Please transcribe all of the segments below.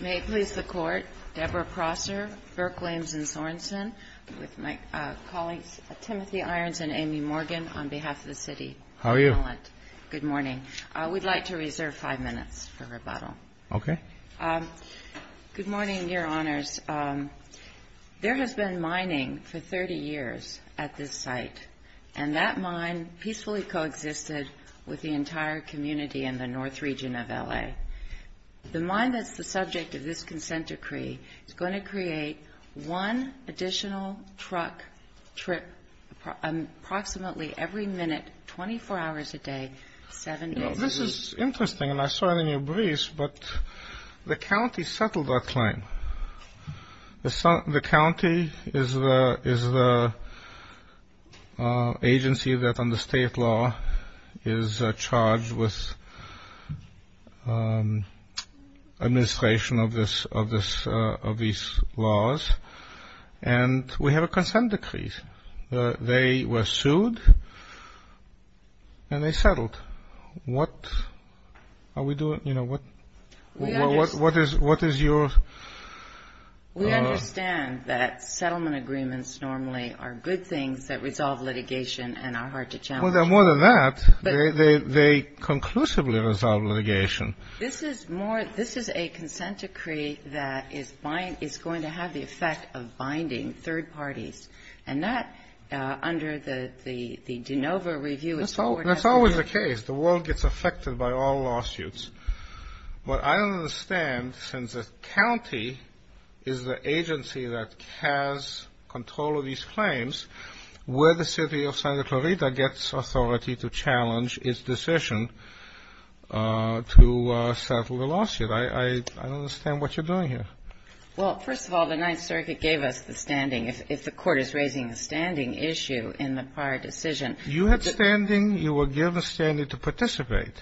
May it please the Court, Deborah Prosser, Burke, Lames, and Sorensen, with my colleagues Timothy Irons and Amy Morgan on behalf of the City of Portland. Good morning. We'd like to reserve five minutes for rebuttal. Okay. Good morning, Your Honors. There has been mining for 30 years at this site, and that mine peacefully coexisted with the entire community in the north region of L.A. The mine that's the subject of this consent decree is going to create one additional truck trip approximately every minute, 24 hours a day, seven days a week. This is interesting, and I saw it in your briefs, but the county settled that claim. The county is the agency that under state law is charged with administration of these laws, and we have a consent decree. They were sued, and they settled. What are we doing? We understand that settlement agreements normally are good things that resolve litigation and are hard to challenge. Well, they're more than that. They conclusively resolve litigation. This is a consent decree that is going to have the effect of binding third parties, and that under the DeNova review is forwarded. And that's always the case. The world gets affected by all lawsuits. What I don't understand, since the county is the agency that has control of these claims, where the city of Santa Clarita gets authority to challenge its decision to settle the lawsuit. I don't understand what you're doing here. Well, first of all, the Ninth Circuit gave us the standing. If the court is raising a standing issue in the prior decision — You had standing. You were given standing to participate.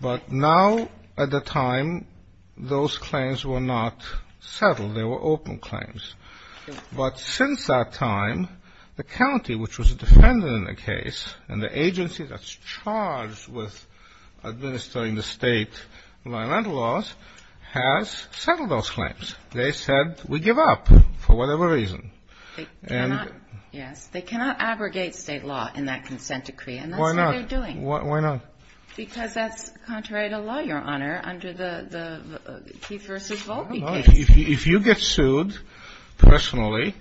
But now, at the time, those claims were not settled. They were open claims. But since that time, the county, which was a defendant in the case, and the agency that's charged with administering the state environmental laws, has settled those claims. They said, we give up, for whatever reason. Yes. They cannot aggregate state law in that consent decree, and that's what they're doing. Why not? Why not? Because that's contrary to law, Your Honor, under the Keith v. Volpe case. If you get sued personally,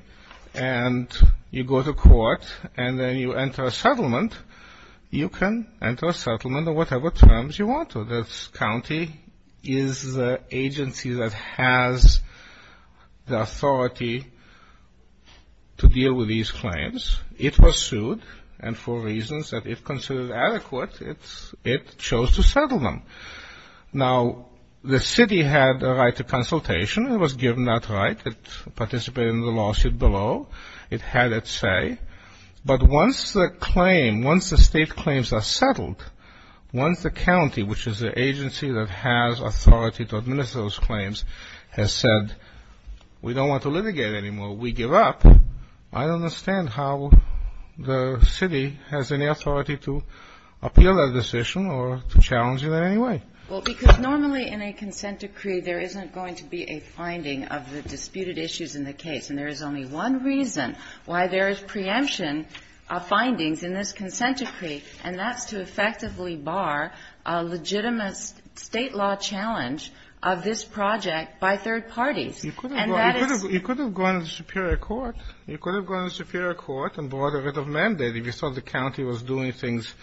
and you go to court, and then you enter a settlement, you can enter a settlement on whatever terms you want to. The county is the agency that has the authority to deal with these claims. It was sued, and for reasons that it considered adequate, it chose to settle them. Now, the city had a right to consultation. It was given that right. It participated in the lawsuit below. It had its say. But once the claim, once the state claims are settled, once the county, which is the agency that has authority to administer those claims, has said, we don't want to litigate anymore, we give up, I don't understand how the city has any authority to appeal that decision or to challenge it in any way. Well, because normally in a consent decree, there isn't going to be a finding of the disputed issues in the case. And there is only one reason why there is preemption of findings in this consent decree, and that's to effectively bar a legitimate State law challenge of this project by third parties. And that is the case. You could have gone to the superior court. You could have gone to the superior court and brought a writ of mandate. If you thought the county was doing things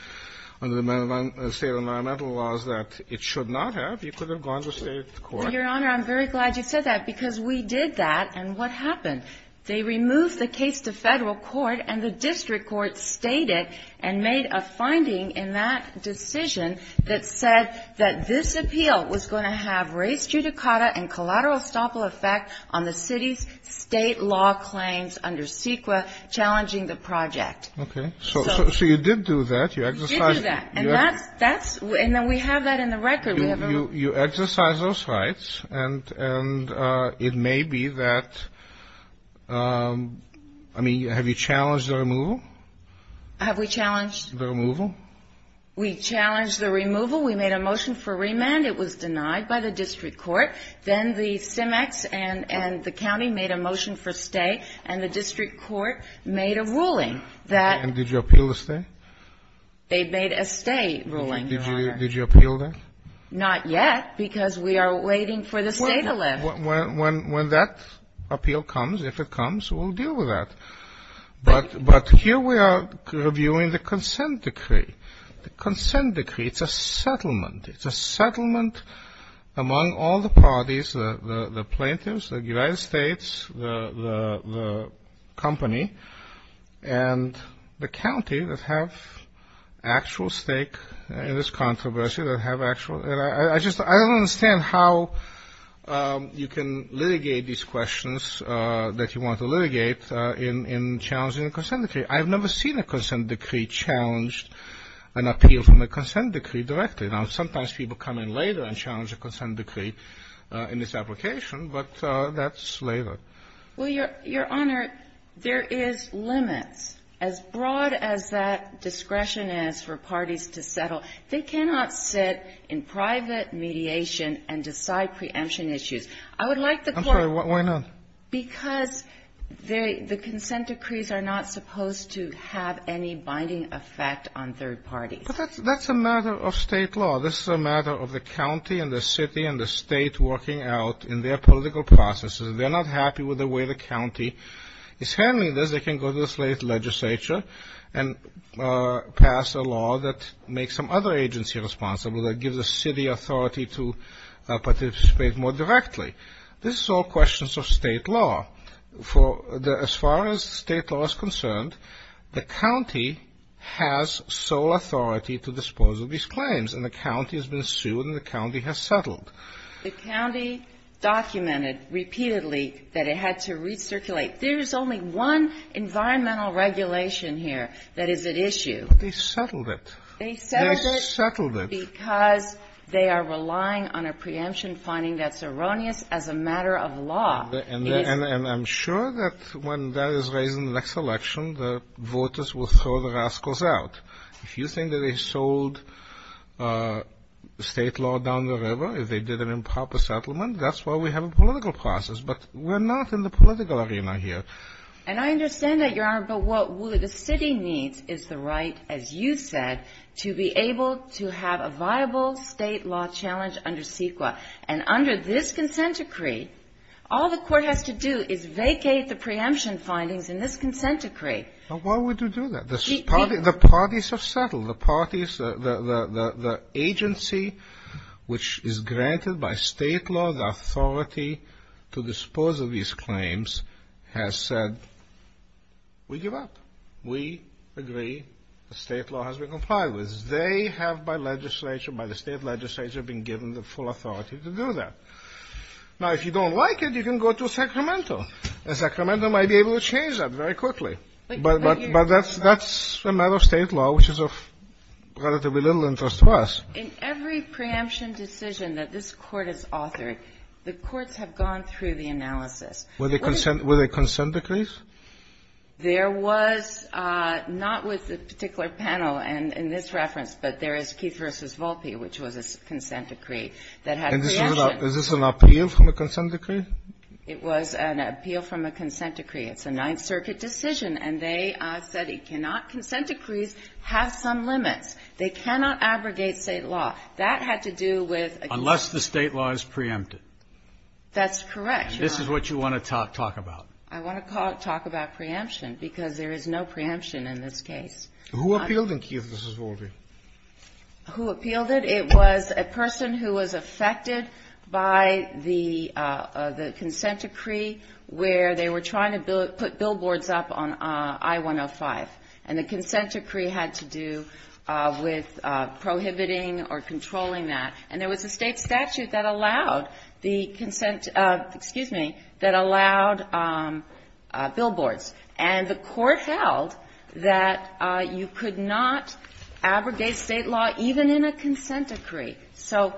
under the State environmental laws that it should not have, you could have gone to the State court. Well, Your Honor, I'm very glad you said that, because we did that. And what happened? They removed the case to Federal court, and the district court stated and made a finding in that decision that said that this appeal was going to have res judicata and collateral estoppel effect on the city's State law claims under CEQA challenging the project. Okay. So you did do that. You exercised it. We did do that. And that's, and we have that in the record. You exercised those rights, and it may be that, I mean, have you challenged the removal? Have we challenged? The removal. We challenged the removal. We made a motion for remand. It was denied by the district court. Then the CIMEX and the county made a motion for stay, and the district court made a ruling that ---- They made a stay ruling, Your Honor. Did you appeal that? Not yet, because we are waiting for the stay to lift. When that appeal comes, if it comes, we'll deal with that. But here we are reviewing the consent decree. The consent decree, it's a settlement. It's a settlement among all the parties, the plaintiffs, the United States, the company, and the county that have actual stake in this controversy, that have actual ---- I just don't understand how you can litigate these questions that you want to litigate in challenging a consent decree. I've never seen a consent decree challenge an appeal from a consent decree directly. Now, sometimes people come in later and challenge a consent decree in this application, but that's later. Well, Your Honor, there is limits. As broad as that discretion is for parties to settle, they cannot sit in private mediation and decide preemption issues. I would like the court ---- I'm sorry. Why not? Because the consent decrees are not supposed to have any binding effect on third parties. But that's a matter of State law. This is a matter of the county and the city and the State working out in their political processes. If they're not happy with the way the county is handling this, they can go to the legislature and pass a law that makes some other agency responsible, that gives the city authority to participate more directly. This is all questions of State law. As far as State law is concerned, the county has sole authority to dispose of these claims, and the county has been sued and the county has settled. The county documented repeatedly that it had to recirculate. There is only one environmental regulation here that is at issue. But they settled it. They settled it. They settled it. Because they are relying on a preemption finding that's erroneous as a matter of law. And I'm sure that when that is raised in the next election, the voters will throw the rascals out. If you think that they sold State law down the river, if they did an improper settlement, that's why we have a political process. But we're not in the political arena here. And I understand that, Your Honor. But what the city needs is the right, as you said, to be able to have a viable State law challenge under CEQA. And under this consent decree, all the court has to do is vacate the preemption findings in this consent decree. But why would you do that? The parties have settled. The parties, the agency which is granted by State law the authority to dispose of these claims has said, we give up. We agree. The State law has been complied with. They have, by the State legislature, been given the full authority to do that. Now, if you don't like it, you can go to Sacramento. And Sacramento might be able to change that very quickly. But that's a matter of State law, which is of relatively little interest to us. In every preemption decision that this Court has authored, the courts have gone through the analysis. Were they consent decrees? There was not with the particular panel in this reference, but there is Keith v. Volpe, which was a consent decree that had preemption. Is this an appeal from a consent decree? It was an appeal from a consent decree. It's a Ninth Circuit decision, and they said it cannot, consent decrees have some limits. They cannot abrogate State law. That had to do with a case. Unless the State law is preempted. That's correct, Your Honor. And this is what you want to talk about. I want to talk about preemption, because there is no preemption in this case. Who appealed in Keith v. Volpe? Who appealed it? It was a person who was affected by the consent decree where they were trying to put billboards up on I-105. And the consent decree had to do with prohibiting or controlling that. And there was a State statute that allowed the consent, excuse me, that allowed billboards. And the Court held that you could not abrogate State law even in a consent decree. So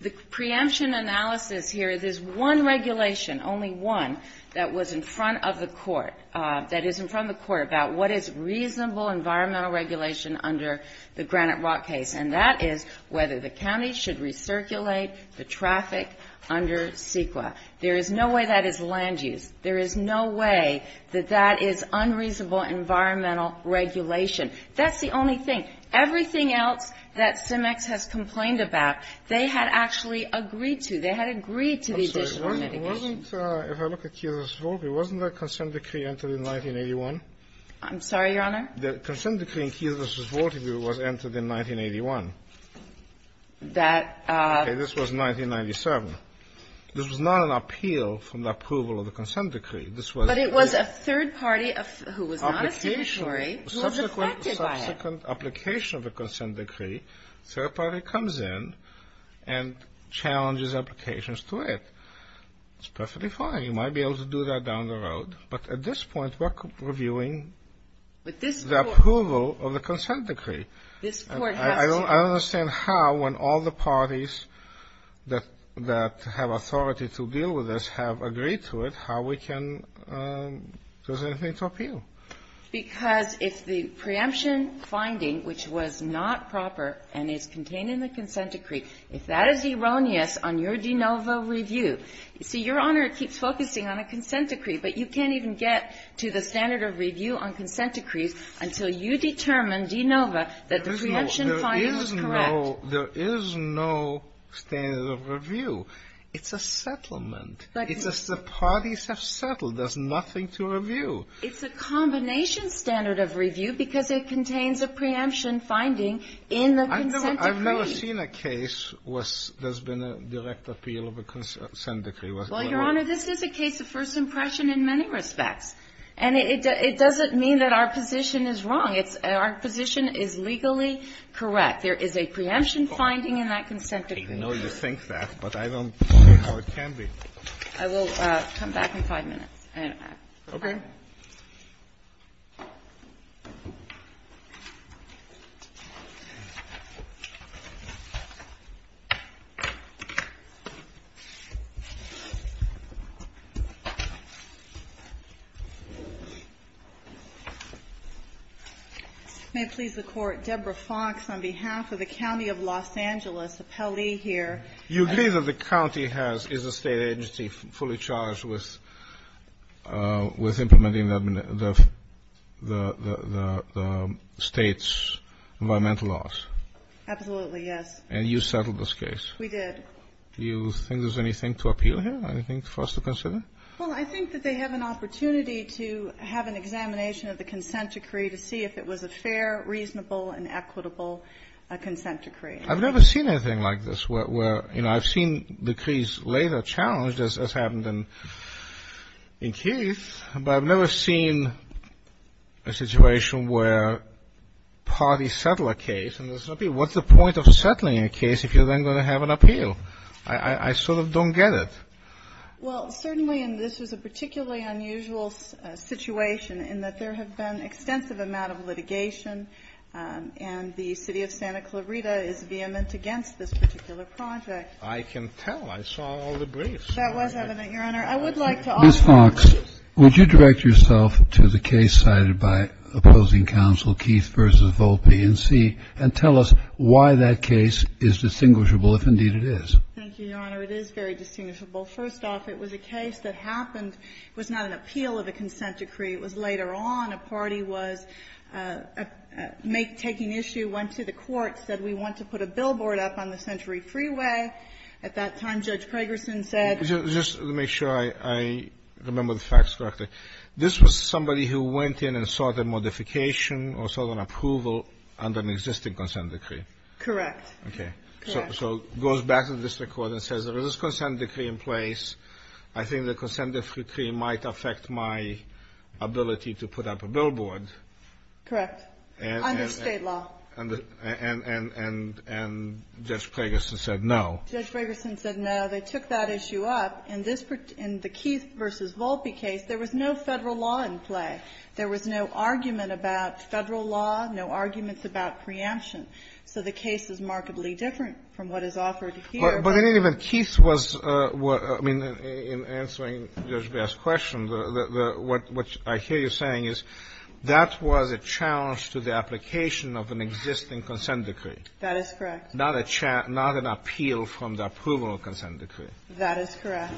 the preemption analysis here, there's one regulation, only one, that was in front of the Court, that is in front of the Court, about what is reasonable environmental regulation under the Granite Rock case. And that is whether the county should recirculate the traffic under CEQA. There is no way that is land use. There is no way that that is unreasonable environmental regulation. That's the only thing. Everything else that CIMEX has complained about, they had actually agreed to. They had agreed to the additional mitigation. Kennedy. I'm sorry. If I look at Keith v. Volpe, wasn't the consent decree entered in 1981? I'm sorry, Your Honor? The consent decree in Keith v. Volpe was entered in 1981. That was 1997. This was not an appeal from the approval of the consent decree. But it was a third party who was not a signatory who was affected by it. Subsequent application of a consent decree, third party comes in and challenges applications to it. It's perfectly fine. You might be able to do that down the road. But at this point, we're reviewing the approval of the consent decree. I don't understand how, when all the parties that have authority to deal with this have agreed to it, how we can do anything to appeal. Because if the preemption finding, which was not proper and is contained in the consent decree, if that is erroneous on your de novo review. You see, Your Honor, it keeps focusing on a consent decree. But you can't even get to the standard of review on consent decrees until you determine de novo that the preemption finding is correct. There is no standard of review. It's a settlement. It's just the parties have settled. There's nothing to review. It's a combination standard of review because it contains a preemption finding in the consent decree. I've never seen a case where there's been a direct appeal of a consent decree. Well, Your Honor, this is a case of first impression in many respects. And it doesn't mean that our position is wrong. It's our position is legally correct. There is a preemption finding in that consent decree. I know you think that, but I don't know how it can be. I will come back in five minutes. Okay. May it please the Court, Deborah Fox, on behalf of the county of Los Angeles, appellee here. You agree that the county has, is a State agency fully charged with implementing the State's environmental laws? Absolutely, yes. And you settled this case? We did. Do you think there's anything to appeal here, anything for us to consider? Well, I think that they have an opportunity to have an examination of the consent decree to see if it was a fair, reasonable, and equitable consent decree. I've never seen anything like this where, you know, I've seen decrees later challenged as happened in Keith, but I've never seen a situation where parties settle a case and there's no appeal. What's the point of settling a case if you're then going to have an appeal? I sort of don't get it. Well, certainly, and this is a particularly unusual situation in that there have been extensive amount of litigation, and the City of Santa Clarita is vehement against this particular project. I can tell. I saw all the briefs. That was evident, Your Honor. I would like to offer you a piece. Ms. Fox, would you direct yourself to the case cited by opposing counsel, Keith v. Volpe, and see and tell us why that case is distinguishable, if indeed it is. Thank you, Your Honor. It is very distinguishable. First off, it was a case that happened, was not an appeal of a consent decree. It was later on. A party was taking issue, went to the court, said, we want to put a billboard up on the Century Freeway. At that time, Judge Pragerson said ---- Just to make sure I remember the facts correctly, this was somebody who went in and sought a modification or sought an approval under an existing consent decree. Correct. Okay. Correct. So it goes back to the district court and says there is a consent decree in place. I think the consent decree might affect my ability to put up a billboard. Correct. Under State law. And Judge Pragerson said no. Judge Pragerson said no. They took that issue up. In the Keith v. Volpe case, there was no Federal law in play. There was no argument about Federal law, no arguments about preemption. So the case is markedly different from what is offered here. But in any event, Keith was ---- I mean, in answering Judge Baer's question, what I hear you saying is that was a challenge to the application of an existing consent decree. That is correct. Not an appeal from the approval of a consent decree. That is correct.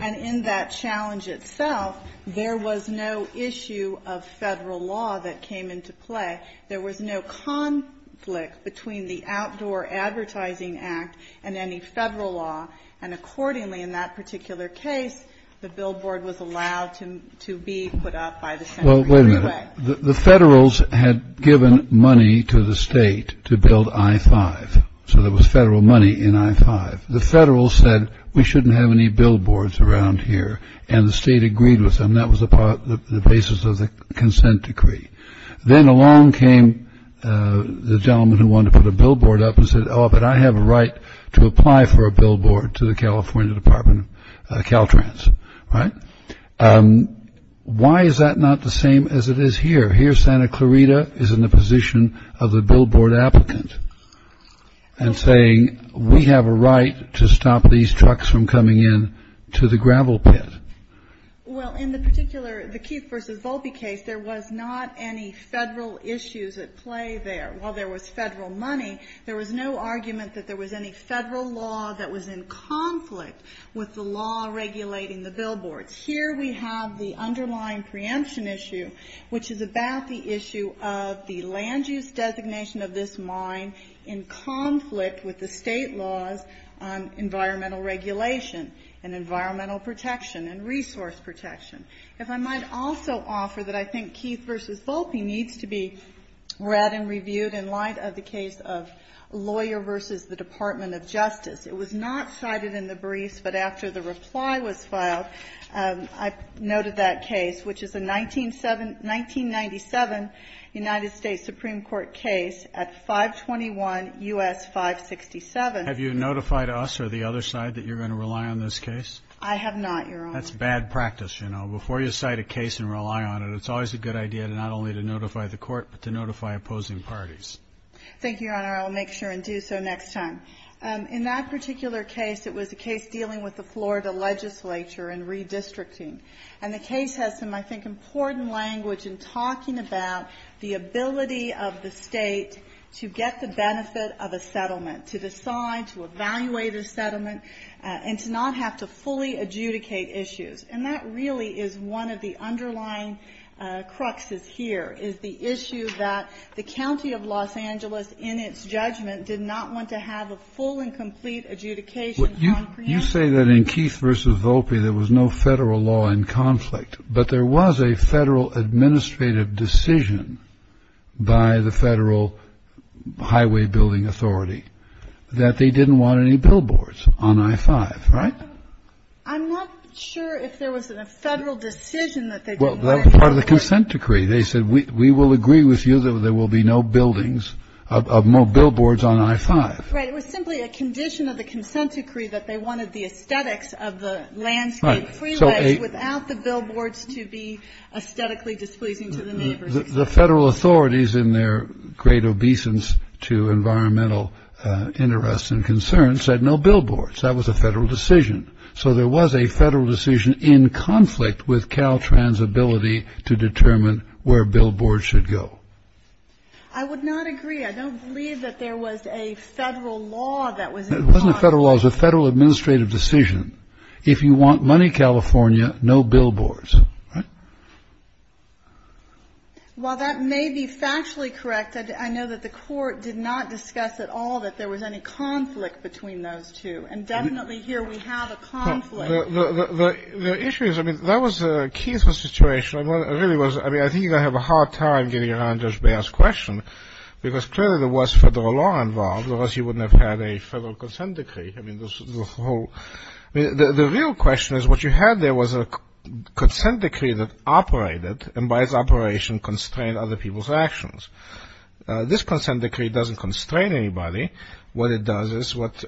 And in that challenge itself, there was no issue of Federal law that came into play. There was no conflict between the Outdoor Advertising Act and any Federal law. And accordingly in that particular case, the billboard was allowed to be put up by the Central Freeway. Well, wait a minute. The Federals had given money to the State to build I-5. So there was Federal money in I-5. The Federals said we shouldn't have any billboards around here. And the State agreed with them. That was the basis of the consent decree. Then along came the gentleman who wanted to put a billboard up and said, oh, but I have a right to apply for a billboard to the California Department of Caltrans. Right? Why is that not the same as it is here? Here Santa Clarita is in the position of the billboard applicant and saying, we have a right to stop these trucks from coming in to the gravel pit. Well, in the particular, the Keith v. Volpe case, there was not any Federal issues at play there. While there was Federal money, there was no argument that there was any Federal law that was in conflict with the law regulating the billboards. Here we have the underlying preemption issue, which is about the issue of the land use designation of this mine in conflict with the State laws on environmental regulation and environmental protection and resource protection. If I might also offer that I think Keith v. Volpe needs to be read and reviewed in light of the case of lawyer v. the Department of Justice. It was not cited in the briefs, but after the reply was filed, I noted that case, which is a 1997 United States Supreme Court case at 521 U.S. 567. Have you notified us or the other side that you're going to rely on this case? I have not, Your Honor. That's bad practice, you know. Before you cite a case and rely on it, it's always a good idea not only to notify the Court, but to notify opposing parties. Thank you, Your Honor. I'll make sure and do so next time. In that particular case, it was a case dealing with the Florida legislature and redistricting. And the case has some, I think, important language in talking about the ability of the State to get the benefit of a settlement, to decide, to evaluate a settlement, and to not have to fully adjudicate issues. And that really is one of the underlying cruxes here, is the issue that the county of Los Angeles in its judgment did not want to have a full and complete adjudication on preemptively. You say that in Keith v. Volpe there was no Federal law in conflict, but there was a Federal administrative decision by the Federal Highway Building Authority that they didn't want any billboards on I-5, right? I'm not sure if there was a Federal decision that they didn't want any billboards. Well, that was part of the consent decree. They said, we will agree with you that there will be no buildings, no billboards on I-5. Right. It was simply a condition of the consent decree that they wanted the aesthetics of the without the billboards to be aesthetically displeasing to the neighbors. The Federal authorities in their great obeisance to environmental interests and concerns said no billboards. That was a Federal decision. So there was a Federal decision in conflict with Caltrans' ability to determine where billboards should go. I would not agree. I don't believe that there was a Federal law that was in conflict. It wasn't a Federal law. It was a Federal administrative decision. If you want money, California, no billboards. Right? Well, that may be factually correct. I know that the court did not discuss at all that there was any conflict between those two. And definitely here we have a conflict. The issue is, I mean, that was the key to the situation. I really was, I mean, I think you're going to have a hard time getting around Judge Baird's question because clearly there was Federal law involved or else you wouldn't have had a Federal consent decree. I mean, the real question is what you had there was a consent decree that operated and by its operation constrained other people's actions. This consent decree doesn't constrain anybody. What it does is what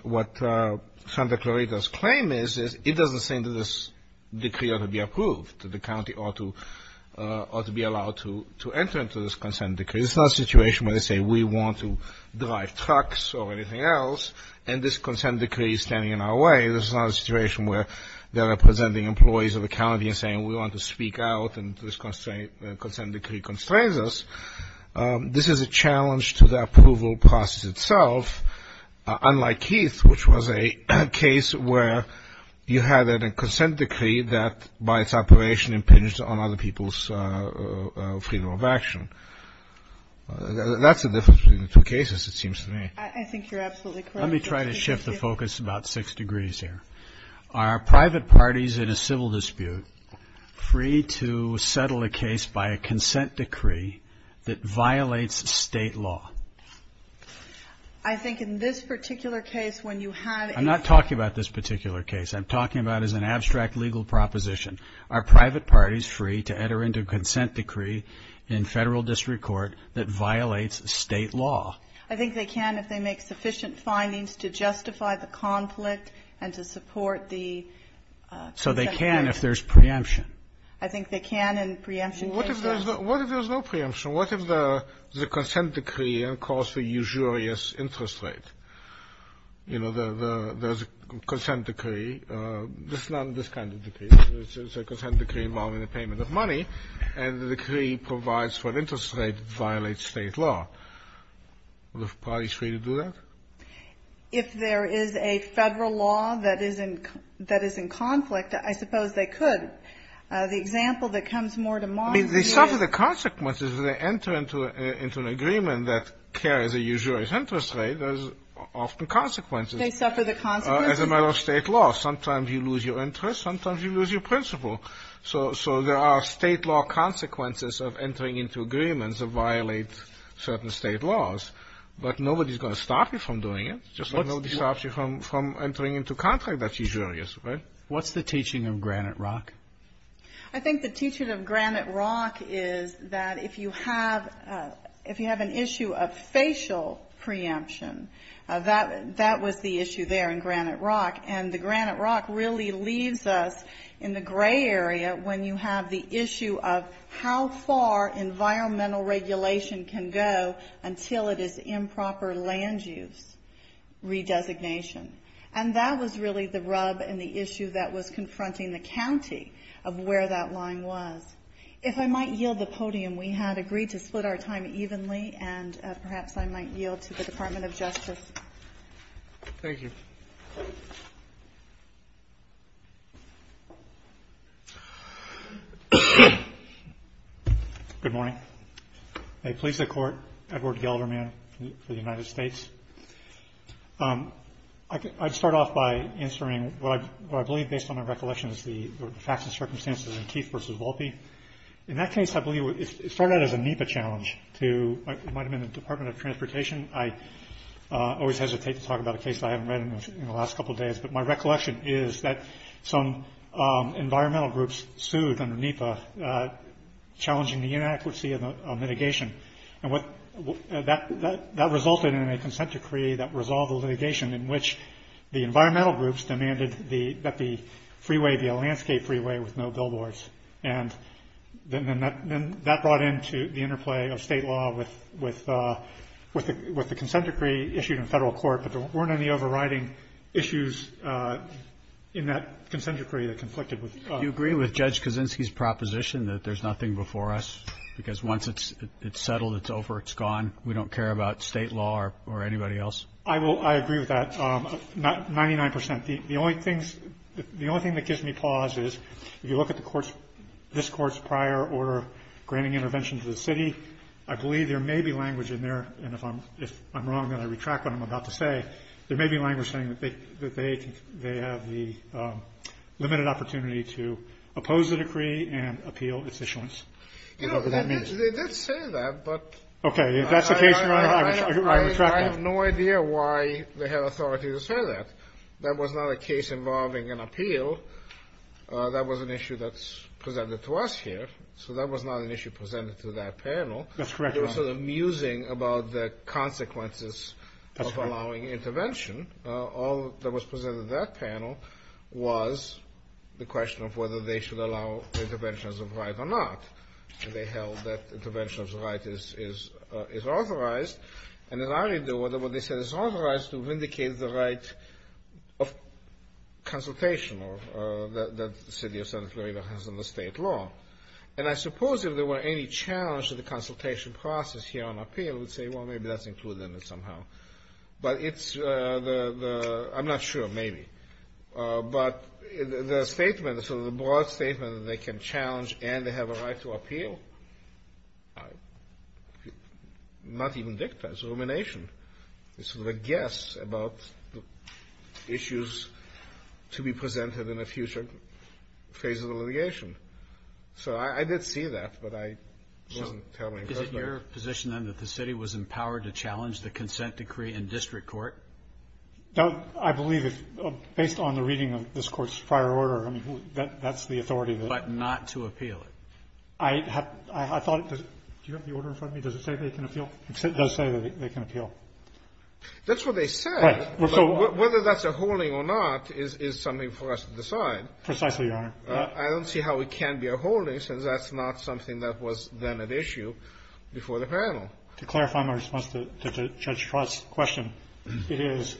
Santa Clarita's claim is, is it doesn't say that this decree ought to be approved, that the county ought to be allowed to enter into this consent decree. It's not a situation where they say we want to drive trucks or anything else, and this consent decree is standing in our way. This is not a situation where they're representing employees of the county and saying we want to speak out and this consent decree constrains us. This is a challenge to the approval process itself, unlike Keith, which was a case where you had a consent decree that by its operation impinged on other people's freedom of action. That's the difference between the two cases, it seems to me. I think you're absolutely correct. Let me try to shift the focus about six degrees here. Are private parties in a civil dispute free to settle a case by a consent decree that violates state law? I think in this particular case when you have a- I'm not talking about this particular case. I'm talking about as an abstract legal proposition. Are private parties free to enter into a consent decree in Federal district court that violates state law? I think they can if they make sufficient findings to justify the conflict and to support the consent decree. So they can if there's preemption? I think they can in preemption cases. What if there's no preemption? What if the consent decree caused a usurious interest rate? You know, the consent decree, it's not this kind of decree. It's a consent decree involving the payment of money, and the decree provides for an interest rate that violates state law. Are the parties free to do that? If there is a Federal law that is in conflict, I suppose they could. The example that comes more to mind is- I mean, they suffer the consequences. When they enter into an agreement that carries a usurious interest rate, there's often consequences. They suffer the consequences? As a matter of state law. Sometimes you lose your interest. Sometimes you lose your principle. So there are state law consequences of entering into agreements that violate certain state laws. But nobody's going to stop you from doing it. Just like nobody stops you from entering into a contract that's usurious, right? What's the teaching of Granite Rock? I think the teaching of Granite Rock is that if you have an issue of facial preemption, that was the issue there in Granite Rock. And the Granite Rock really leaves us in the gray area when you have the issue of how far environmental regulation can go until it is improper land use redesignation. And that was really the rub and the issue that was confronting the county of where that line was. If I might yield the podium, we had agreed to split our time evenly, and perhaps I might yield to the Department of Justice. Thank you. Good morning. May it please the Court, Edward Gelderman for the United States. I'd start off by answering what I believe, based on my recollection, is the facts and circumstances in Keith v. Volpe. In that case, I believe it started out as a NEPA challenge. It might have been the Department of Transportation. I always hesitate to talk about a case I haven't read in the last couple of days. But my recollection is that some environmental groups sued under NEPA, challenging the inaccuracy of mitigation. And that resulted in a consent decree that resolved the litigation, in which the environmental groups demanded that the freeway be a landscape freeway with no billboards. And then that brought into the interplay of state law with the consent decree issued in federal court, but there weren't any overriding issues in that consent decree that conflicted with. Do you agree with Judge Kaczynski's proposition that there's nothing before us, because once it's settled, it's over, it's gone, we don't care about state law or anybody else? I agree with that 99 percent. The only thing that gives me pause is if you look at this Court's prior order granting intervention to the city, I believe there may be language in there, and if I'm wrong and I retract what I'm about to say, there may be language saying that they have the limited opportunity to oppose the decree and appeal its issuance. I don't know what that means. They did say that, but I have no idea why they have authority to say that. That was not a case involving an appeal. That was an issue that's presented to us here, so that was not an issue presented to that panel. That's correct, Your Honor. It was sort of musing about the consequences of allowing intervention. All that was presented to that panel was the question of whether they should allow interventions of right or not, and they held that intervention of right is authorized. And as I read the order, what they said, it's authorized to vindicate the right of consultation that the city of Santa Clarita has under state law. And I suppose if there were any challenge to the consultation process here on appeal, I would say, well, maybe that's included in it somehow. But it's the – I'm not sure, maybe. But the statement, sort of the broad statement that they can challenge and they have a right to appeal, not even dicta, it's rumination. It's sort of a guess about the issues to be presented in a future phase of the litigation. So I did see that, but I wasn't telling. So is it your position, then, that the city was empowered to challenge the consent decree in district court? No, I believe, based on the reading of this court's prior order, I mean, that's the authority. But not to appeal it? I thought – do you have the order in front of me? Does it say they can appeal? It does say that they can appeal. That's what they said. But whether that's a holding or not is something for us to decide. Precisely, Your Honor. I don't see how it can be a holding, since that's not something that was then at issue before the panel. To clarify my response to Judge Trott's question, it is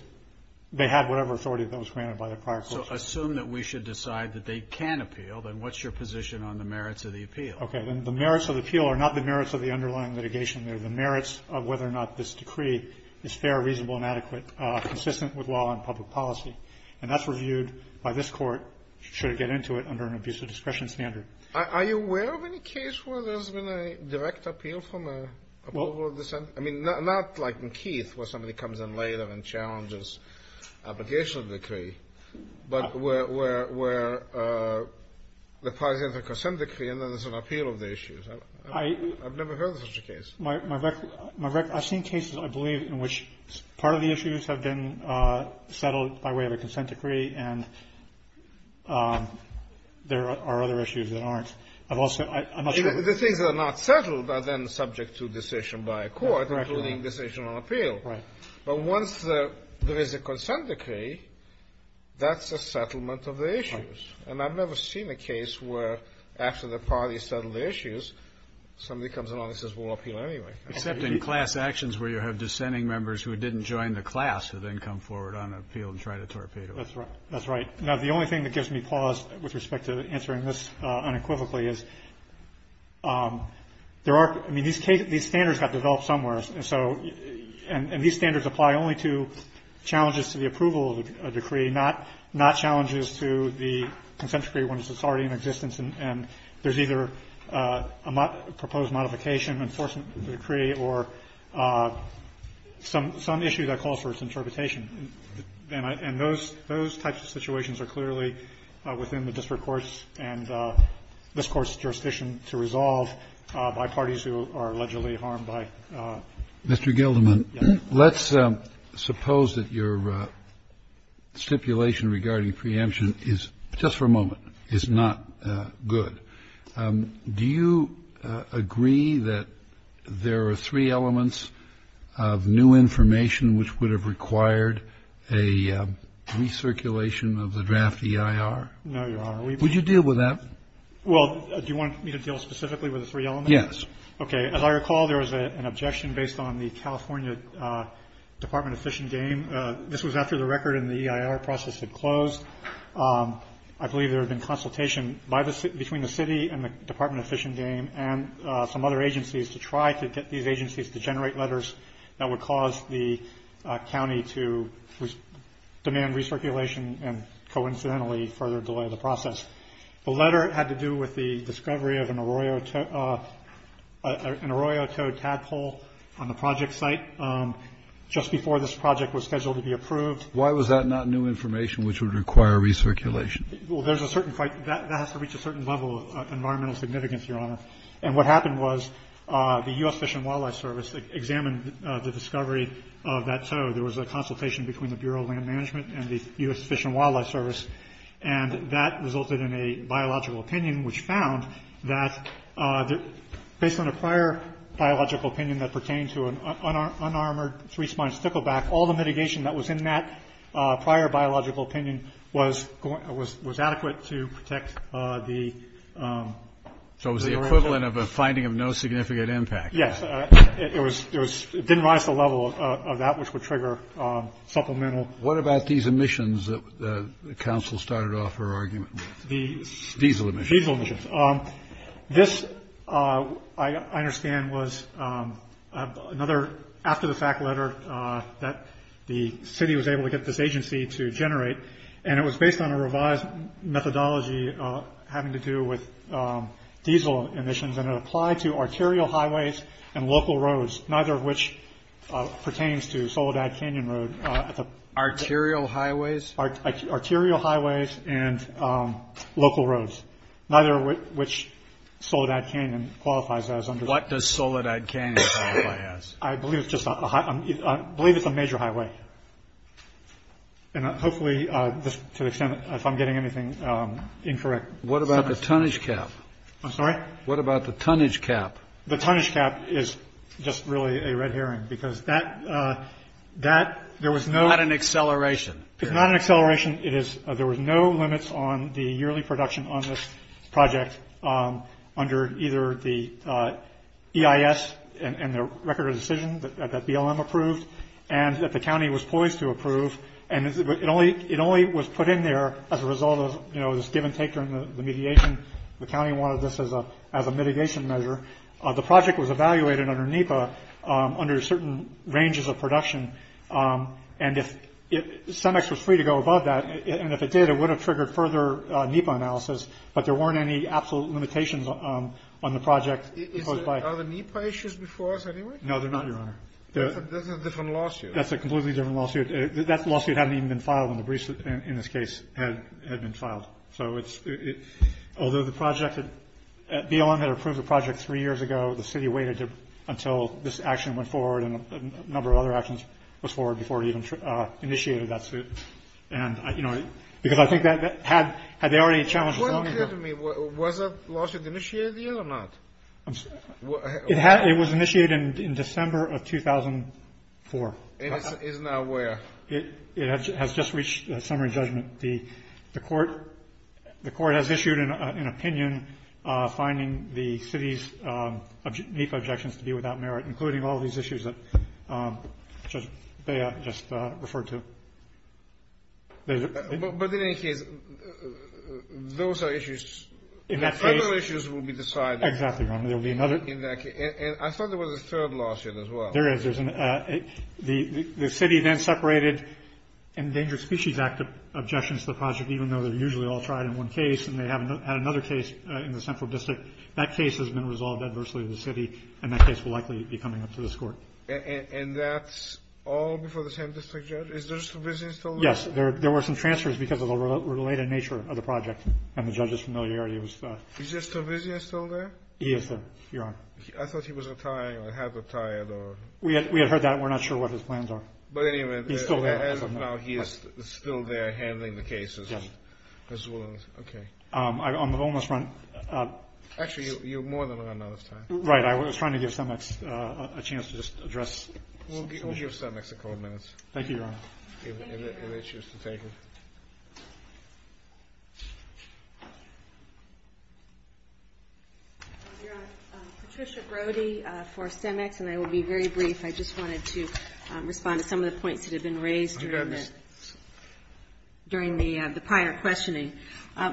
they had whatever authority that was granted by the prior court. So assume that we should decide that they can appeal. Then what's your position on the merits of the appeal? Okay. Then the merits of the appeal are not the merits of the underlying litigation. They're the merits of whether or not this decree is fair, reasonable, and adequate, consistent with law and public policy. And that's reviewed by this court, should it get into it, under an abuse of discretion standard. Are you aware of any case where there's been a direct appeal from a – Well –– but where, for example, a consent decree and then there's an appeal of the issues? I've never heard of such a case. I've seen cases, I believe, in which part of the issues have been settled by way of a consent decree, and there are other issues that aren't. I've also – I'm not sure – The things that are not settled are then subject to decision by a court, including decision on appeal. Right. But once there is a consent decree, that's a settlement of the issues. Right. And I've never seen a case where after the parties settle the issues, somebody comes along and says we'll appeal anyway. Except in class actions where you have dissenting members who didn't join the class who then come forward on appeal and try to torpedo it. That's right. That's right. Now, the only thing that gives me pause with respect to answering this unequivocally is there are – I mean, these standards got developed somewhere. And so – and these standards apply only to challenges to the approval of a decree, not challenges to the consent decree when it's already in existence and there's either a proposed modification, enforcement of the decree, or some issue that calls for its interpretation. And those types of situations are clearly within the district courts and this Court's jurisdiction to resolve by parties who are allegedly harmed by – Mr. Gilderman, let's suppose that your stipulation regarding preemption is – just for a moment – is not good. Do you agree that there are three elements of new information which would have required a recirculation of the draft EIR? No, Your Honor. Would you deal with that? Well, do you want me to deal specifically with the three elements? Yes. Okay. As I recall, there was an objection based on the California Department of Fish and Game. This was after the record in the EIR process had closed. I believe there had been consultation between the city and the Department of Fish and Game and some other agencies to try to get these agencies to generate letters that would cause the county to demand recirculation and coincidentally further delay the process. The letter had to do with the discovery of an Arroyo Toad tadpole on the project site just before this project was scheduled to be approved. Why was that not new information which would require recirculation? Well, there's a certain – that has to reach a certain level of environmental significance, Your Honor. And what happened was the U.S. Fish and Wildlife Service examined the discovery of that toad. There was a consultation between the Bureau of Land Management and the U.S. Fish and Wildlife Service, and that resulted in a biological opinion which found that based on a prior biological opinion that pertained to an unarmored three-spined stickleback, all the mitigation that was in that prior biological opinion was adequate to protect the – So it was the equivalent of a finding of no significant impact. Yes. It was – it didn't rise to the level of that which would trigger supplemental – What about these emissions that the counsel started off her argument with? The – Diesel emissions. Diesel emissions. This, I understand, was another after-the-fact letter that the city was able to get this agency to generate, and it was based on a revised methodology having to do with diesel emissions, and it applied to arterial highways and local roads, neither of which pertains to Soledad Canyon Road. Arterial highways? Arterial highways and local roads. Neither of which Soledad Canyon qualifies as under the – What does Soledad Canyon qualify as? I believe it's just a – I believe it's a major highway, and hopefully to the extent that if I'm getting anything incorrect – What about the tonnage cap? I'm sorry? What about the tonnage cap? The tonnage cap is just really a red herring because that – there was no – Not an acceleration. It's not an acceleration. It is – there was no limits on the yearly production on this project under either the EIS and the record of decision that BLM approved and that the county was poised to approve, and it only was put in there as a result of, you know, this give and take on the mediation. The county wanted this as a mitigation measure. The project was evaluated under NEPA under certain ranges of production, and if CEMEX was free to go above that, and if it did, it would have triggered further NEPA analysis, but there weren't any absolute limitations on the project imposed by – Are the NEPA issues before us anyway? No, they're not, Your Honor. That's a different lawsuit. That's a completely different lawsuit. That lawsuit hadn't even been filed, and the briefs in this case had been filed. So it's – although the project – BLM had approved the project three years ago. The city waited until this action went forward and a number of other actions was forward before it even initiated that suit. And, you know, because I think that had – had they already challenged – What do you mean? Was that lawsuit initiated yet or not? It was initiated in December of 2004. And it's now where? It has just reached summary judgment. The court has issued an opinion finding the city's NEPA objections to be without merit, including all these issues that Judge Bea just referred to. But in any case, those are issues – In that case – Federal issues will be decided. Exactly, Your Honor. There will be another – And I thought there was a third lawsuit as well. There is. The city then separated Endangered Species Act objections to the project, even though they're usually all tried in one case, and they had another case in the central district. That case has been resolved adversely to the city, and that case will likely be coming up to this court. And that's all before the same district judge? Is Judge Stavizian still there? Yes. There were some transfers because of the related nature of the project and the judge's familiarity with – Is Judge Stavizian still there? He is, Your Honor. I thought he was retiring or had retired or – We had heard that. We're not sure what his plans are. But anyway – He's still there. As of now, he is still there handling the cases as well as – Yes. Okay. On the bonus front – Actually, you're more than on bonus time. Right. I was trying to give CEMEX a chance to just address – We'll give CEMEX a couple of minutes. Thank you, Your Honor. If they choose to take it. Your Honor, Patricia Brody for CEMEX, and I will be very brief. I just wanted to respond to some of the points that have been raised during the prior questioning.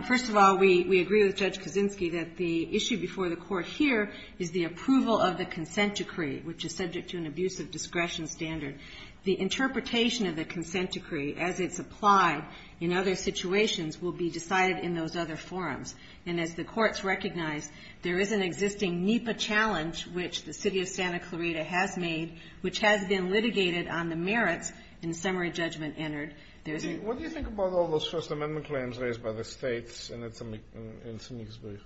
First of all, we agree with Judge Kaczynski that the issue before the Court here is the approval of the consent decree, which is subject to an abuse of discretion standard. The interpretation of the consent decree as it's applied in other situations will be decided in those other forums. And as the Courts recognize, there is an existing NEPA challenge, which the City of Santa Clarita has made, which has been litigated on the merits in summary judgment entered. What do you think about all those First Amendment claims raised by the States and it's in Meeksburg?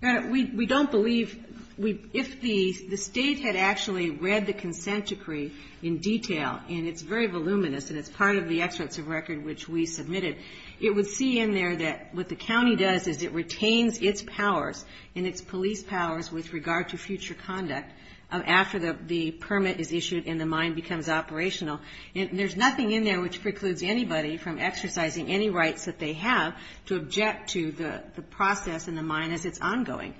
Your Honor, we don't believe – if the State had actually read the consent decree in detail, and it's very voluminous, and it's part of the excerpts of record which we submitted, it would see in there that what the county does is it retains its powers and its police powers with regard to future conduct after the permit is issued and the mine becomes operational. There's nothing in there which precludes anybody from exercising any rights that they have to object to the process and the mine as it's ongoing.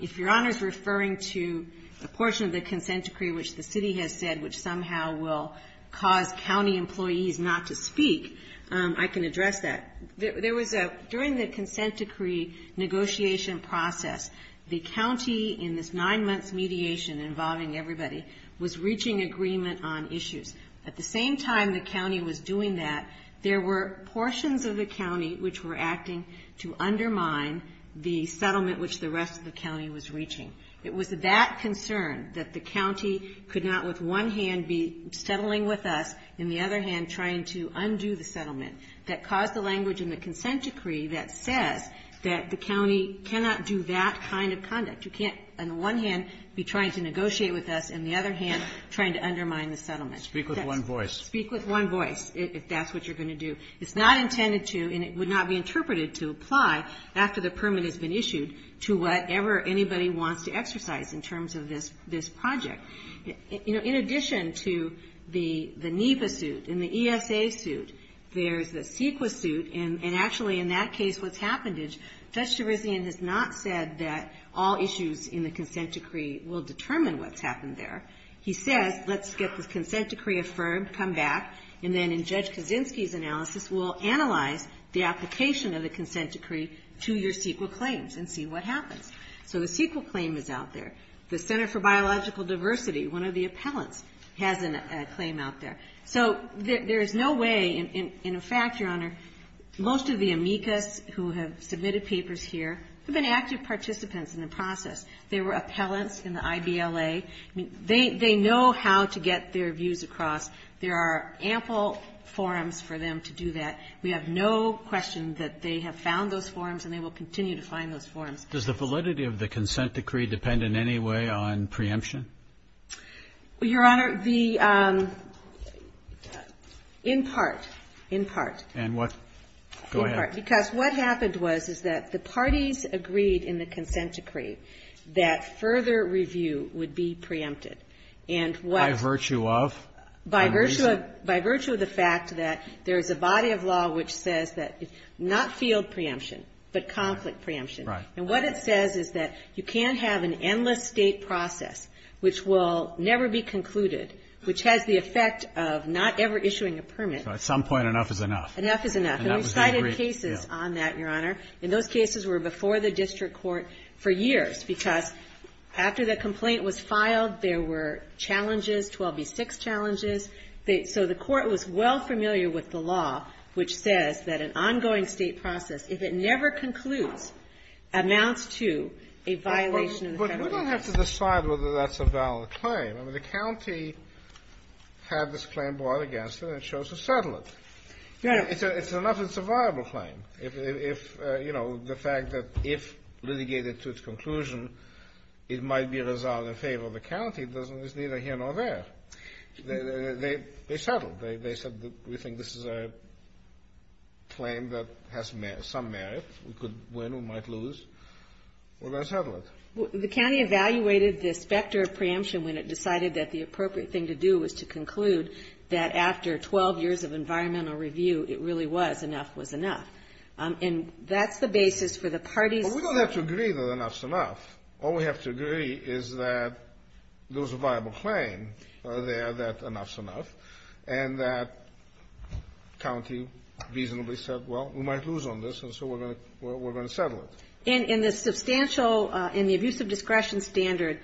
If Your Honor is referring to a portion of the consent decree which the City has said which somehow will cause county employees not to speak, I can address that. There was a – during the consent decree negotiation process, the county in this nine-months mediation involving everybody was reaching agreement on issues. At the same time the county was doing that, there were portions of the county which were acting to undermine the settlement which the rest of the county was reaching. It was that concern that the county could not with one hand be settling with us, and the other hand trying to undo the settlement, that caused the language in the consent decree that says that the county cannot do that kind of conduct. You can't, on the one hand, be trying to negotiate with us, and the other hand trying to undermine the settlement. Speak with one voice. Speak with one voice if that's what you're going to do. It's not intended to, and it would not be interpreted to apply after the permit has been issued to whatever anybody wants to exercise in terms of this project. You know, in addition to the NEPA suit and the ESA suit, there's the CEQA suit, and actually in that case what's happened is Judge Cherisian has not said that all issues in the consent decree will determine what's happened there. He says let's get the consent decree affirmed, come back, and then in Judge Kaczynski's analysis we'll analyze the application of the consent decree to your CEQA claims and see what happens. So the CEQA claim is out there. The Center for Biological Diversity, one of the appellants, has a claim out there. So there is no way, and in fact, Your Honor, most of the amicus who have submitted papers here have been active participants in the process. They were appellants in the IBLA. They know how to get their views across. There are ample forums for them to do that. We have no question that they have found those forums and they will continue to find those forums. Roberts. Does the validity of the consent decree depend in any way on preemption? Your Honor, the ---- In part. In part. And what? Go ahead. Because what happened was, is that the parties agreed in the consent decree that further review would be preempted. And what ---- By virtue of? By virtue of the fact that there is a body of law which says that not field preemption, but conflict preemption. Right. And what it says is that you can't have an endless State process which will never be concluded, which has the effect of not ever issuing a permit. So at some point enough is enough. Enough is enough. And we cited cases on that, Your Honor. And those cases were before the district court for years, because after the complaint was filed, there were challenges, 12B6 challenges. So the Court was well familiar with the law which says that an ongoing State process, if it never concludes, amounts to a violation of the federal law. But you don't have to decide whether that's a valid claim. I mean, the county had this claim brought against it and chose to settle it. Yes. It's a nothing survival claim. If, you know, the fact that if litigated to its conclusion, it might be resolved in favor of the county, it's neither here nor there. They settled. They said we think this is a claim that has some merit. We could win. We might lose. We're going to settle it. The county evaluated the specter of preemption when it decided that the appropriate thing to do was to conclude that after 12 years of environmental review, it really was enough was enough. And that's the basis for the parties. Well, we don't have to agree that enough's enough. All we have to agree is that there was a viable claim there that enough's enough, and that county reasonably said, well, we might lose on this, and so we're going to settle it. And the substantial and the abuse of discretion standard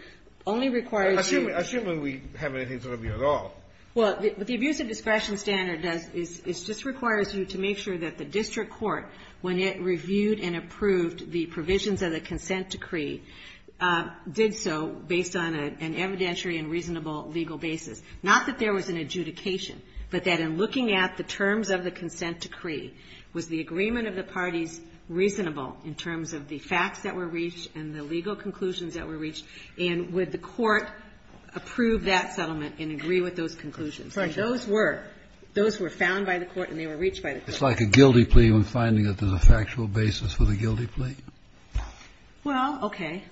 only requires you to assume when we have anything to review at all. Well, what the abuse of discretion standard does is it just requires you to make sure that the district court, when it reviewed and approved the provisions of the consent decree, did so based on an evidentiary and reasonable legal basis. Not that there was an adjudication, but that in looking at the terms of the consent decree, was the agreement of the parties reasonable in terms of the facts that were found by the court and they were reached by the court. It's like a guilty plea when finding that there's a factual basis for the guilty plea. Well, okay.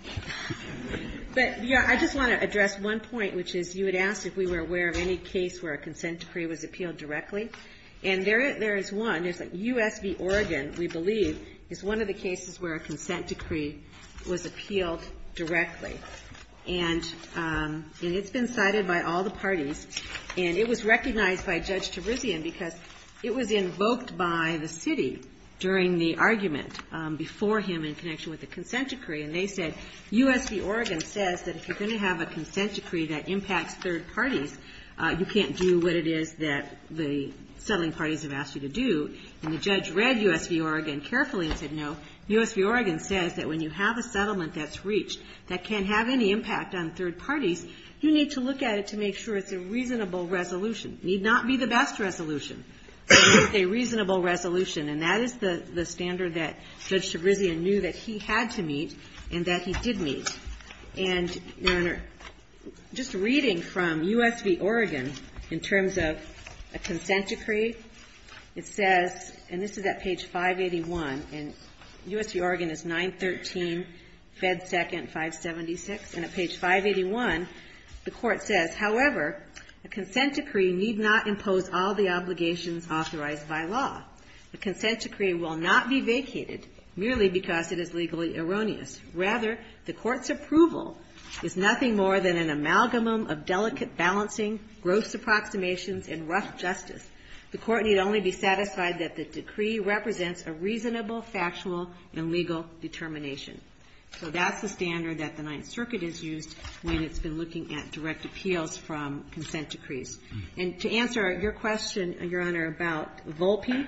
But, yeah, I just want to address one point, which is you had asked if we were aware of any case where a consent decree was appealed directly. And there is one. There's a U.S. v. Oregon, we believe, is one of the cases where a consent decree was appealed directly. And it's been cited by all the parties. And it was recognized by Judge Terizian because it was invoked by the city during the argument before him in connection with the consent decree. And they said, U.S. v. Oregon says that if you're going to have a consent decree that impacts third parties, you can't do what it is that the settling parties have asked you to do. And the judge read U.S. v. Oregon carefully and said, no, U.S. v. Oregon, if you're going to have any impact on third parties, you need to look at it to make sure it's a reasonable resolution. It need not be the best resolution, but it's a reasonable resolution. And that is the standard that Judge Terizian knew that he had to meet and that he did meet. And, Your Honor, just reading from U.S. v. Oregon in terms of a consent decree, it says, and this is at page 581, and U.S. v. Oregon is 913, Fed 2nd, 577. And at page 581, the Court says, however, a consent decree need not impose all the obligations authorized by law. The consent decree will not be vacated merely because it is legally erroneous. Rather, the Court's approval is nothing more than an amalgam of delicate balancing, gross approximations, and rough justice. The Court need only be satisfied that the decree represents a reasonable, factual, and legal determination. So that's the standard that the Ninth Circuit has used when it's been looking at direct appeals from consent decrees. And to answer your question, Your Honor, about Volpe,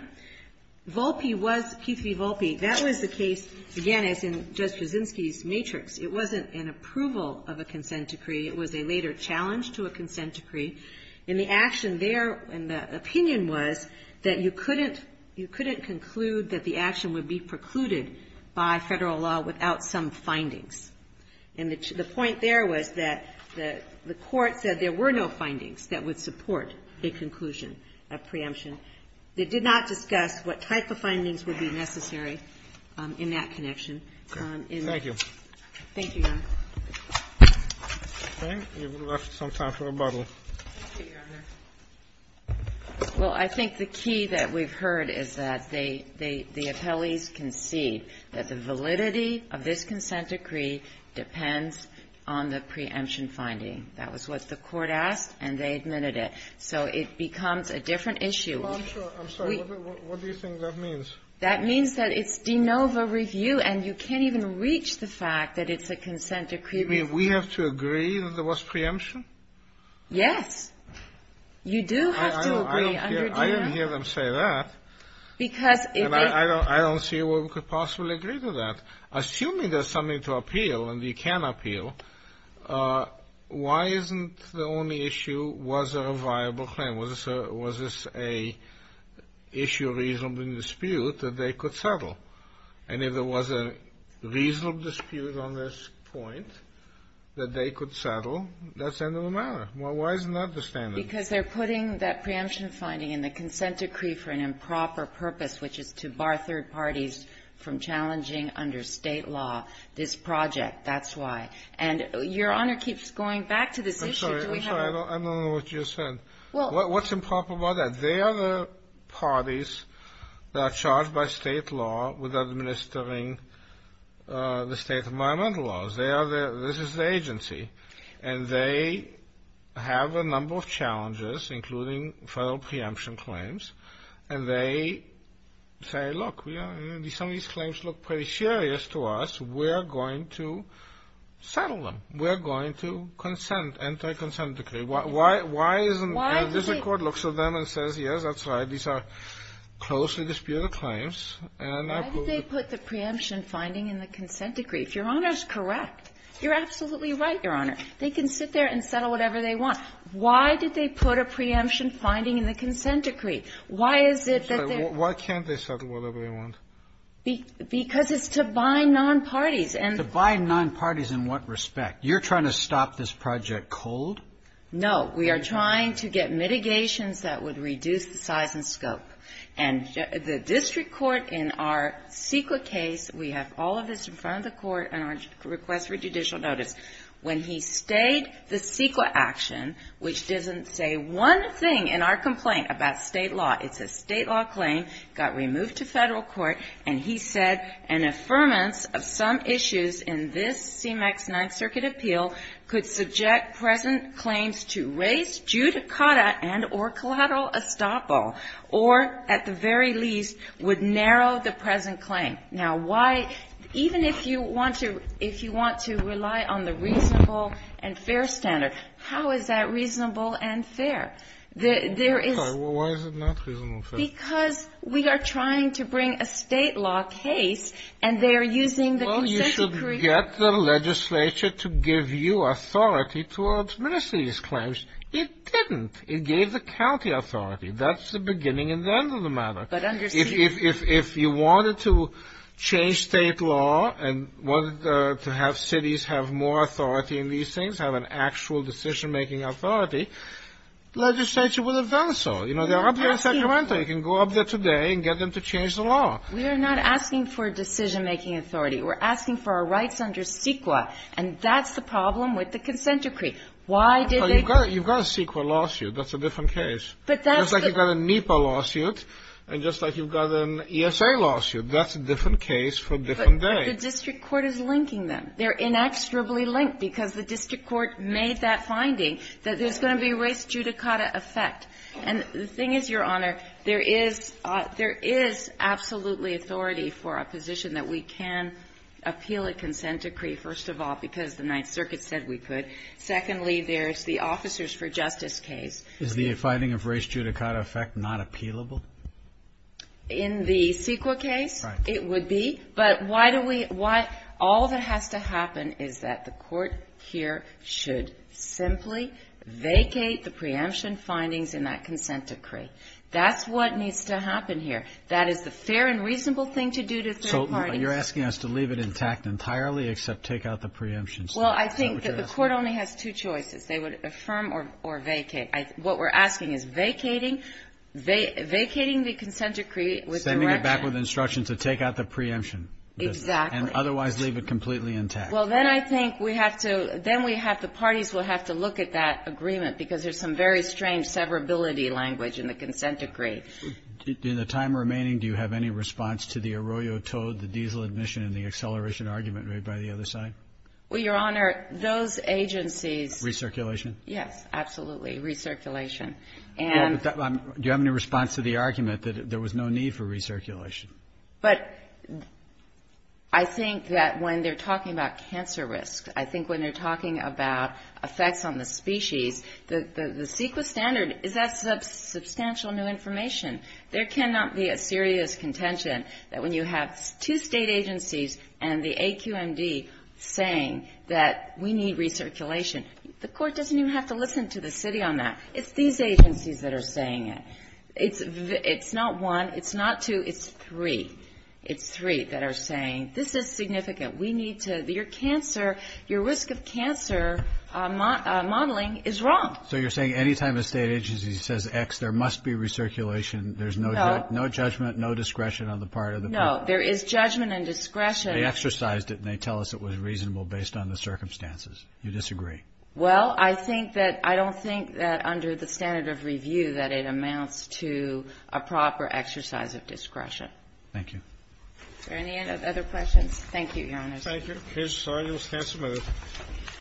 Volpe was, Keith v. Volpe, that was the case, again, as in Judge Terizianski's matrix. It wasn't an approval of a consent decree. It was a later challenge to a consent decree. And the action there and the opinion was that you couldn't conclude that the action would be precluded by Federal law without some findings. And the point there was that the Court said there were no findings that would support a conclusion, a preemption. They did not discuss what type of findings would be necessary in that connection. In that case. Thank you. Thank you, Your Honor. Okay. We have left some time for rebuttal. Thank you, Your Honor. Well, I think the key that we've heard is that they, the appellees concede that the validity of this consent decree depends on the preemption finding. That was what the Court asked, and they admitted it. So it becomes a different issue. I'm sorry. What do you think that means? That means that it's de novo review, and you can't even reach the fact that it's a consent decree. You mean we have to agree that there was preemption? Yes. You do have to agree. I didn't hear them say that. And I don't see where we could possibly agree to that. Assuming there's something to appeal and you can appeal, why isn't the only issue, was there a viable claim? Was this an issue of reasonable dispute that they could settle? And if there was a reasonable dispute on this point that they could settle, that's the end of the matter. Why isn't that the standard? Because they're putting that preemption finding in the consent decree for an improper purpose, which is to bar third parties from challenging under State law this project. That's why. And Your Honor keeps going back to this issue. I'm sorry. I don't know what you said. What's improper about that? They are the parties that are charged by State law with administering the State environmental laws. This is the agency. And they have a number of challenges, including federal preemption claims. And they say, look, some of these claims look pretty serious to us. We're going to settle them. We're going to consent, enter a consent decree. Why isn't this court looks at them and says, yes, that's right, these are closely disputed claims. Why did they put the preemption finding in the consent decree? If Your Honor is correct, you're absolutely right, Your Honor. They can sit there and settle whatever they want. Why did they put a preemption finding in the consent decree? Why is it that they're --- Why can't they settle whatever they want? Because it's to bind nonparties. To bind nonparties in what respect? You're trying to stop this project cold? No. We are trying to get mitigations that would reduce the size and scope. And the district court in our CEQA case, we have all of this in front of the court and our request for judicial notice. When he stayed the CEQA action, which doesn't say one thing in our complaint about state law, it's a state law claim, got removed to federal court, and he said an affirmance of some issues in this CMEX Ninth Circuit appeal could subject present claims to race, judicata, and or collateral estoppel. Or, at the very least, would narrow the present claim. Now, why, even if you want to rely on the reasonable and fair standard, how is that reasonable and fair? There is -- Why is it not reasonable and fair? Because we are trying to bring a state law case, and they are using the consent decree. We get the legislature to give you authority to administer these claims. It didn't. It gave the county authority. That's the beginning and the end of the matter. If you wanted to change state law and wanted to have cities have more authority in these things, have an actual decision-making authority, legislature would have done so. You know, they're up there in Sacramento. You can go up there today and get them to change the law. We are not asking for decision-making authority. We're asking for our rights under CEQA. And that's the problem with the consent decree. Why did they go? You've got a CEQA lawsuit. That's a different case. But that's the -- Just like you've got a NEPA lawsuit and just like you've got an ESA lawsuit. That's a different case for a different day. But the district court is linking them. They're inexorably linked because the district court made that finding that there's going to be race, judicata effect. And the thing is, Your Honor, there is absolutely authority for a position that we can appeal a consent decree, first of all, because the Ninth Circuit said we could. Secondly, there's the officers for justice case. Is the finding of race, judicata effect not appealable? In the CEQA case, it would be. Right. But why do we – all that has to happen is that the Court here should simply vacate the preemption findings in that consent decree. That's what needs to happen here. That is the fair and reasonable thing to do to third parties. So you're asking us to leave it intact entirely except take out the preemptions? Well, I think that the Court only has two choices. They would affirm or vacate. What we're asking is vacating the consent decree with direction. Sending it back with instructions to take out the preemption. Exactly. And otherwise leave it completely intact. Well, then I think we have to – then we have to – the parties will have to look at that agreement, because there's some very strange severability language in the consent decree. In the time remaining, do you have any response to the Arroyo Toad, the diesel admission, and the acceleration argument made by the other side? Well, Your Honor, those agencies – Recirculation? Yes, absolutely. Recirculation. And – Do you have any response to the argument that there was no need for recirculation? But I think that when they're talking about cancer risk, I think when they're talking about effects on the species, the CEQA standard is that substantial new information. There cannot be a serious contention that when you have two state agencies and the AQMD saying that we need recirculation, the Court doesn't even have to listen to the city on that. It's these agencies that are saying it. It's not one. It's not two. It's three. It's three that are saying this is significant. We need to – your cancer – your risk of cancer modeling is wrong. So you're saying any time a state agency says X, there must be recirculation, there's no judgment, no discretion on the part of the people? No. There is judgment and discretion. They exercised it, and they tell us it was reasonable based on the circumstances. You disagree? Well, I think that – I don't think that under the standard of review that it amounts to a proper exercise of discretion. Thank you. Is there any other questions? Thank you, Your Honor. Thank you. Here's our new statute.